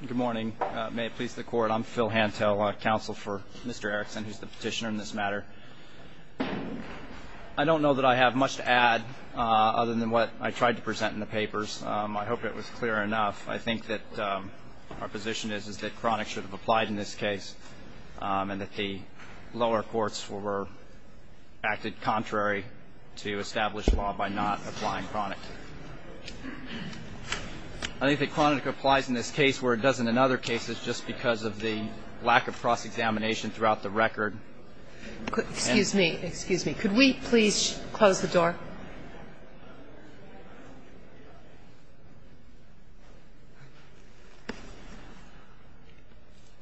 Good morning. May it please the court. I'm Phil Hantel, counsel for Mr. Erickson, who's the petitioner in this matter. I don't know that I have much to add other than what I tried to present in the papers. I hope it was clear enough. I think that our position is that chronic should have applied in this case and that the lower courts were acted contrary to established law by not applying chronic. I think that chronic applies in this case where it doesn't in other cases just because of the lack of cross-examination throughout the record. Excuse me. Excuse me. Could we please close the door?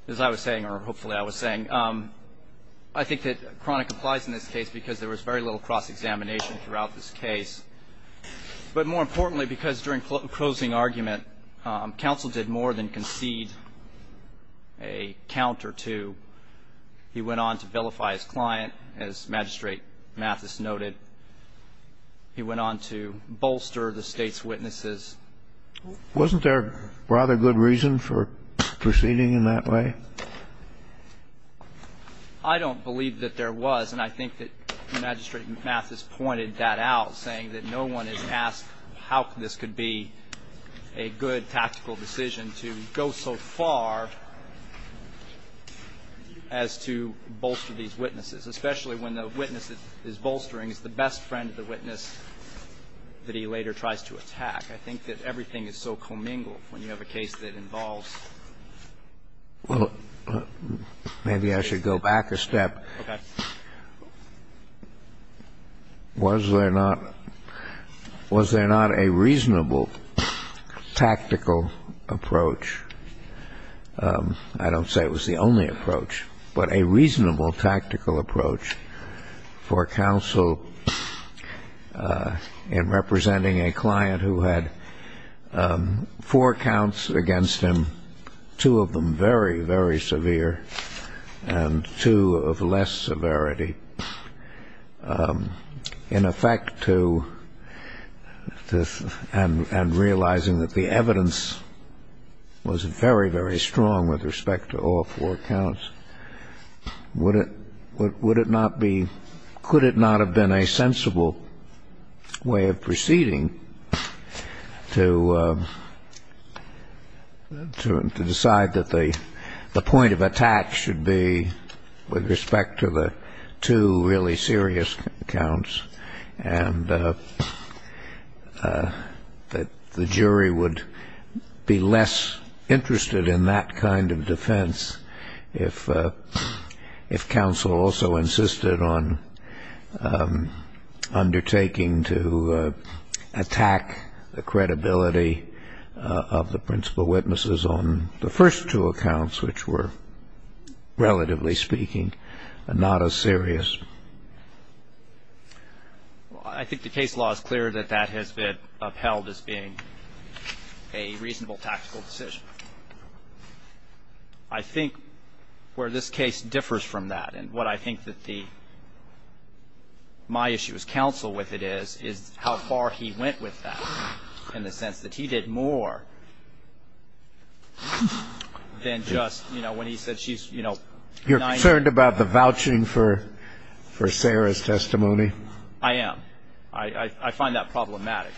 As I was saying, or hopefully I was saying, I think that chronic applies in this case because there was very little cross-examination throughout this case. But more importantly, because during closing argument, counsel did more than concede a count or two. He went on to vilify his client, as Magistrate Mathis noted. He went on to bolster the State's witnesses. Wasn't there rather good reason for proceeding in that way? I don't believe that there was, and I think that Magistrate Mathis pointed that out, saying that no one has asked how this could be a good tactical decision to go so far as to bolster these witnesses, especially when the witness that is bolstering is the best friend of the witness that he later tries to attack. I think that everything is so commingled when you have a case that involves. Well, maybe I should go back a step. Okay. Was there not a reasonable tactical approach? I don't say it was the only approach, but a reasonable tactical approach for counsel in representing a client who had four counts against him, two of them very, very severe, and two of less severity, in effect to and realizing that the evidence was very, very strong with respect to all four counts. Would it not be, could it not have been a sensible way of proceeding to decide that the point of attack should be with respect to the two really serious counts and that the jury would be less interested in that kind of defense if counsel also insisted on undertaking to attack the credibility of the principal witnesses on the first two accounts, which were, relatively speaking, not as serious? Well, I think the case law is clear that that has been upheld as being a reasonable tactical decision. I think where this case differs from that and what I think that the, my issue as counsel with it is, is how far he went with that in the sense that he did more than just, you know, when he said she's, you know, You're concerned about the vouching for Sarah's testimony? I am. I find that problematic.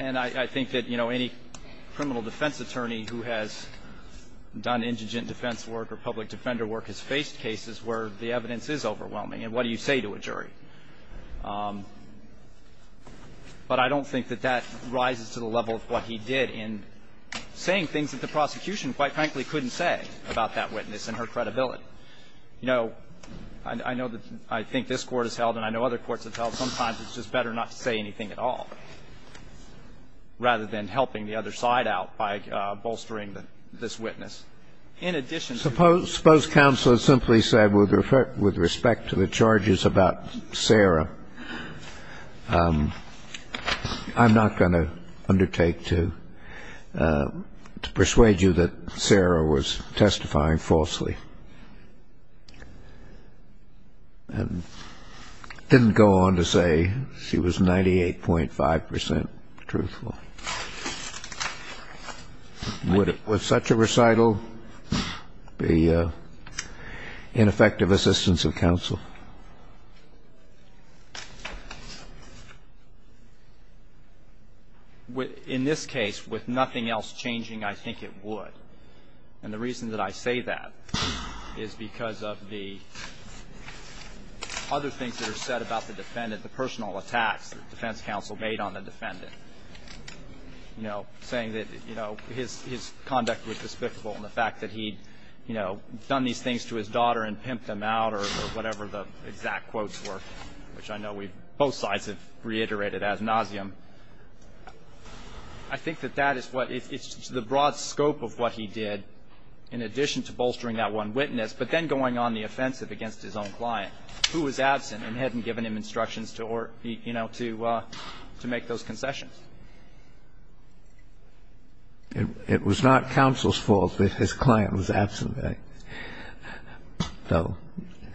And I think that, you know, any criminal defense attorney who has done indigent defense work or public defender work has faced cases where the evidence is overwhelming. And what do you say to a jury? But I don't think that that rises to the level of what he did in saying things that the prosecution, quite frankly, couldn't say about that witness and her credibility. You know, I know that I think this Court has held and I know other courts have held, sometimes it's just better not to say anything at all rather than helping the other side out by bolstering this witness. In addition to that. Suppose counsel simply said with respect to the charges about Sarah, I'm not going to undertake to persuade you that Sarah was testifying falsely. And didn't go on to say she was 98.5 percent truthful. Would such a recital be ineffective assistance of counsel? In this case, with nothing else changing, I think it would. And the reason that I say that is because of the other things that are said about the defendant, the personal attacks that defense counsel made on the defendant. You know, saying that, you know, his conduct was despicable and the fact that he'd, you know, done these things to his daughter and pimped them out or whatever the exact quotes were, which I know both sides have reiterated ad nauseum. I think that that is what the broad scope of what he did, in addition to bolstering that one witness, but then going on the offensive against his own client who was absent and hadn't given him instructions to, you know, to make those concessions. It was not counsel's fault that his client was absent. So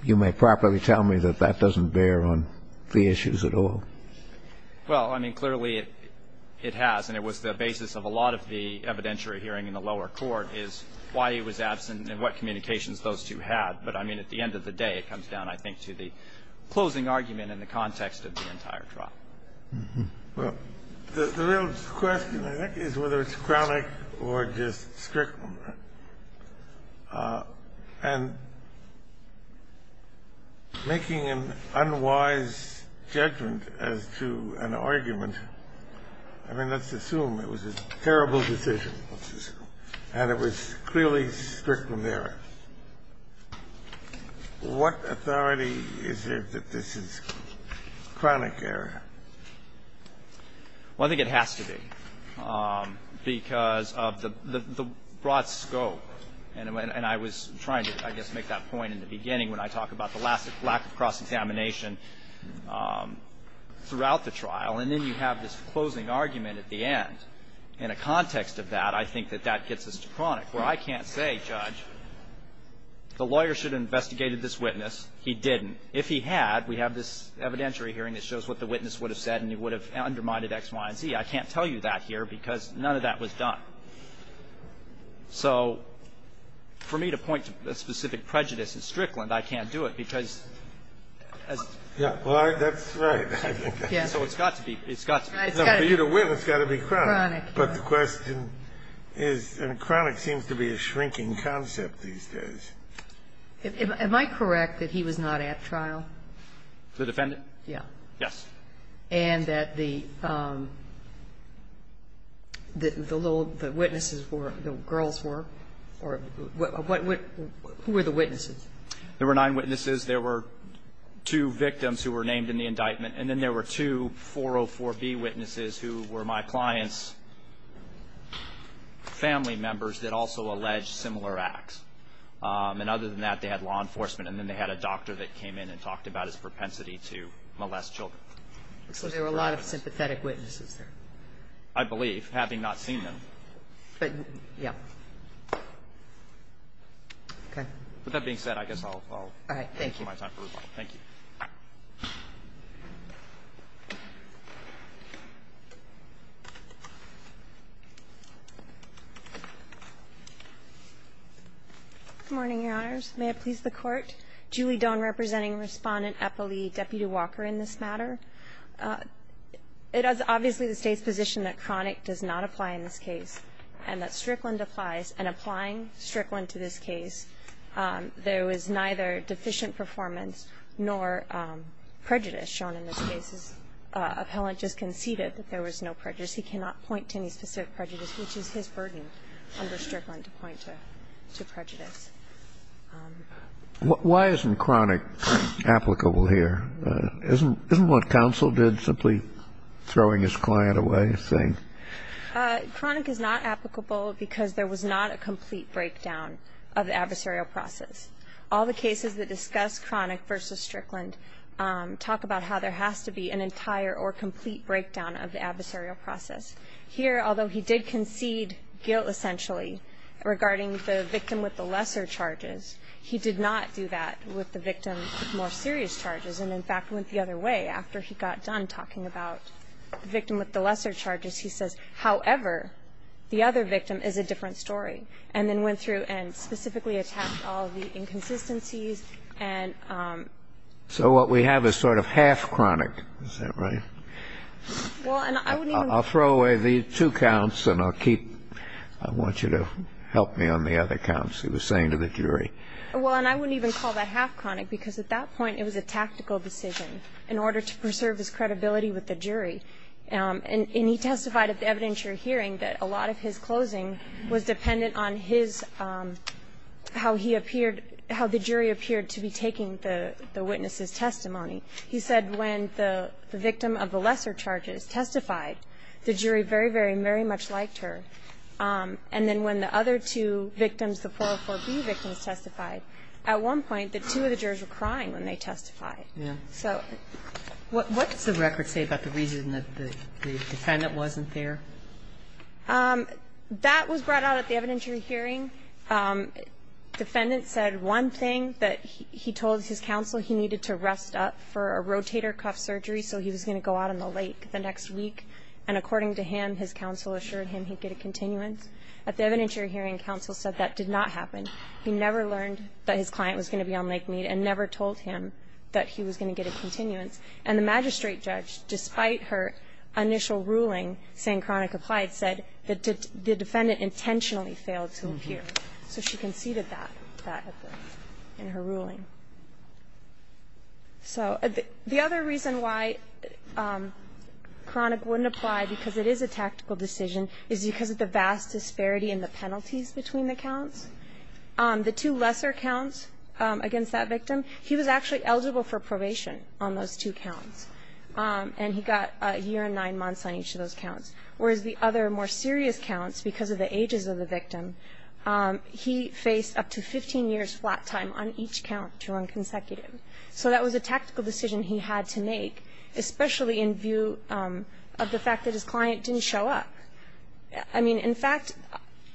you may properly tell me that that doesn't bear on the issues at all. Well, I mean, clearly it has, and it was the basis of a lot of the evidentiary hearing in the lower court is why he was absent and what communications those two had. But, I mean, at the end of the day, it comes down, I think, to the closing argument in the context of the entire trial. Well, the real question, I think, is whether it's chronic or just strict. And making an unwise judgment as to an argument, I mean, let's assume it was a terrible decision, and it was clearly strict from there. What authority is there that this is chronic error? Well, I think it has to be, because of the broad scope. And I was trying to, I guess, make that point in the beginning when I talk about the lack of cross-examination throughout the trial, and then you have this closing argument at the end. In a context of that, I think that that gets us to chronic, where I can't say, Judge, the lawyer should have investigated this witness. He didn't. If he had, we have this evidentiary hearing that shows what the witness would have said, and he would have undermined it X, Y, and Z. I can't tell you that here, because none of that was done. So for me to point to a specific prejudice in Strickland, I can't do it, because as to be specific. The witness has got to be chronic. Chronic, yes. But the question is, and chronic seems to be a shrinking concept these days. Am I correct that he was not at trial? The defendant? Yes. And that the little, the witnesses were, the girls were, or what, who were the witnesses? There were nine witnesses. There were two victims who were named in the indictment, and then there were two witnesses who were my client's family members that also alleged similar acts. And other than that, they had law enforcement, and then they had a doctor that came in and talked about his propensity to molest children. So there were a lot of sympathetic witnesses there. I believe, having not seen them. But, yes. Okay. All right. Thank you. Thank you. Good morning, Your Honors. May it please the Court. Julie Doan representing Respondent Eppley, Deputy Walker in this matter. It is obviously the State's position that chronic does not apply in this case, and that Strickland applies. And applying Strickland to this case, there was neither deficient performance nor prejudice shown in this case. The appellant just conceded that there was no prejudice. He cannot point to any specific prejudice, which is his burden under Strickland to point to prejudice. Why isn't chronic applicable here? Chronic is not applicable because there was not a complete breakdown of the adversarial process. All the cases that discuss chronic versus Strickland talk about how there has to be an entire or complete breakdown of the adversarial process. Here, although he did concede guilt, essentially, regarding the victim with the lesser charges, he did not do that with the victim with more serious charges, and, in fact, went the other way after he got done talking about the victim with the lesser charges. He says, however, the other victim is a different story, and then went through and specifically attacked all the inconsistencies and ---- So what we have is sort of half chronic. Is that right? Well, and I wouldn't even ---- I'll throw away the two counts, and I'll keep ---- I want you to help me on the other counts he was saying to the jury. Well, and I wouldn't even call that half chronic, because at that point it was a tactical decision in order to preserve his credibility with the jury. And he testified at the evidentiary hearing that a lot of his closing was dependent on his ---- how he appeared, how the jury appeared to be taking the witness's testimony. He said when the victim of the lesser charges testified, the jury very, very, very much liked her. And then when the other two victims, the 404B victims testified, at one point, the two of the jurors were crying when they testified. Yeah. So what does the record say about the reason that the defendant wasn't there? That was brought out at the evidentiary hearing. Defendant said one thing, that he told his counsel he needed to rest up for a rotator cuff surgery, so he was going to go out on the lake the next week. And according to him, his counsel assured him he'd get a continuance. At the evidentiary hearing, counsel said that did not happen. He never learned that his client was going to be on Lake Mead and never told him that he was going to get a continuance. And the magistrate judge, despite her initial ruling saying Cronic applied, said that the defendant intentionally failed to appear. So she conceded that, that in her ruling. So the other reason why Cronic wouldn't apply because it is a tactical decision is because of the vast disparity in the penalties between the counts. The two lesser counts against that victim, he was actually eligible for probation on those two counts. And he got a year and nine months on each of those counts, whereas the other more serious counts, because of the ages of the victim, he faced up to 15 years flat time on each count to run consecutive. So that was a tactical decision he had to make, especially in view of the fact that his client didn't show up. I mean, in fact,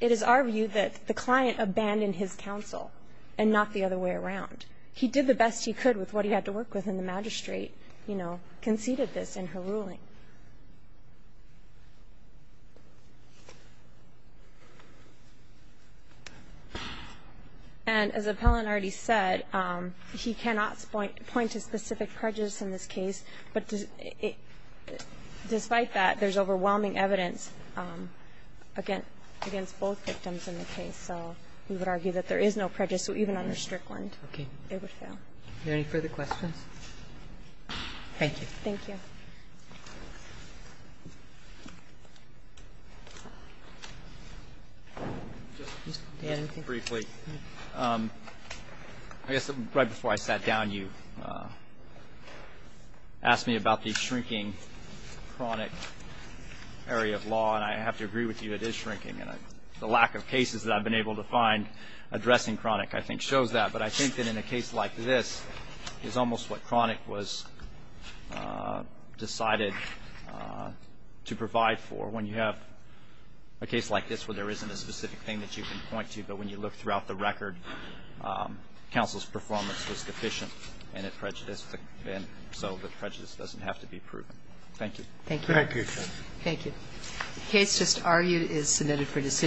it is our view that the client abandoned his counsel and not the other way around. He did the best he could with what he had to work with, and the magistrate, you know, conceded this in her ruling. And as Appellant already said, he cannot point to specific prejudice in this case, but despite that, there's overwhelming evidence against both victims in the case, so we would argue that there is no prejudice. So even under Strickland, it would fail. Are there any further questions? Thank you. Thank you. Just briefly, I guess right before I sat down, you asked me about the shrinking chronic area of law, and I have to agree with you, it is shrinking. And the lack of cases that I've been able to find addressing chronic, I think, shows that. But I think that in a case like this, it's almost what chronic was decided to provide for when you have a case like this where there isn't a specific thing that you can point to, but when you look throughout the record, counsel's performance was deficient and it prejudiced, and so the prejudice doesn't have to be proven. Thank you. Thank you. Thank you. The case just argued is submitted for decision.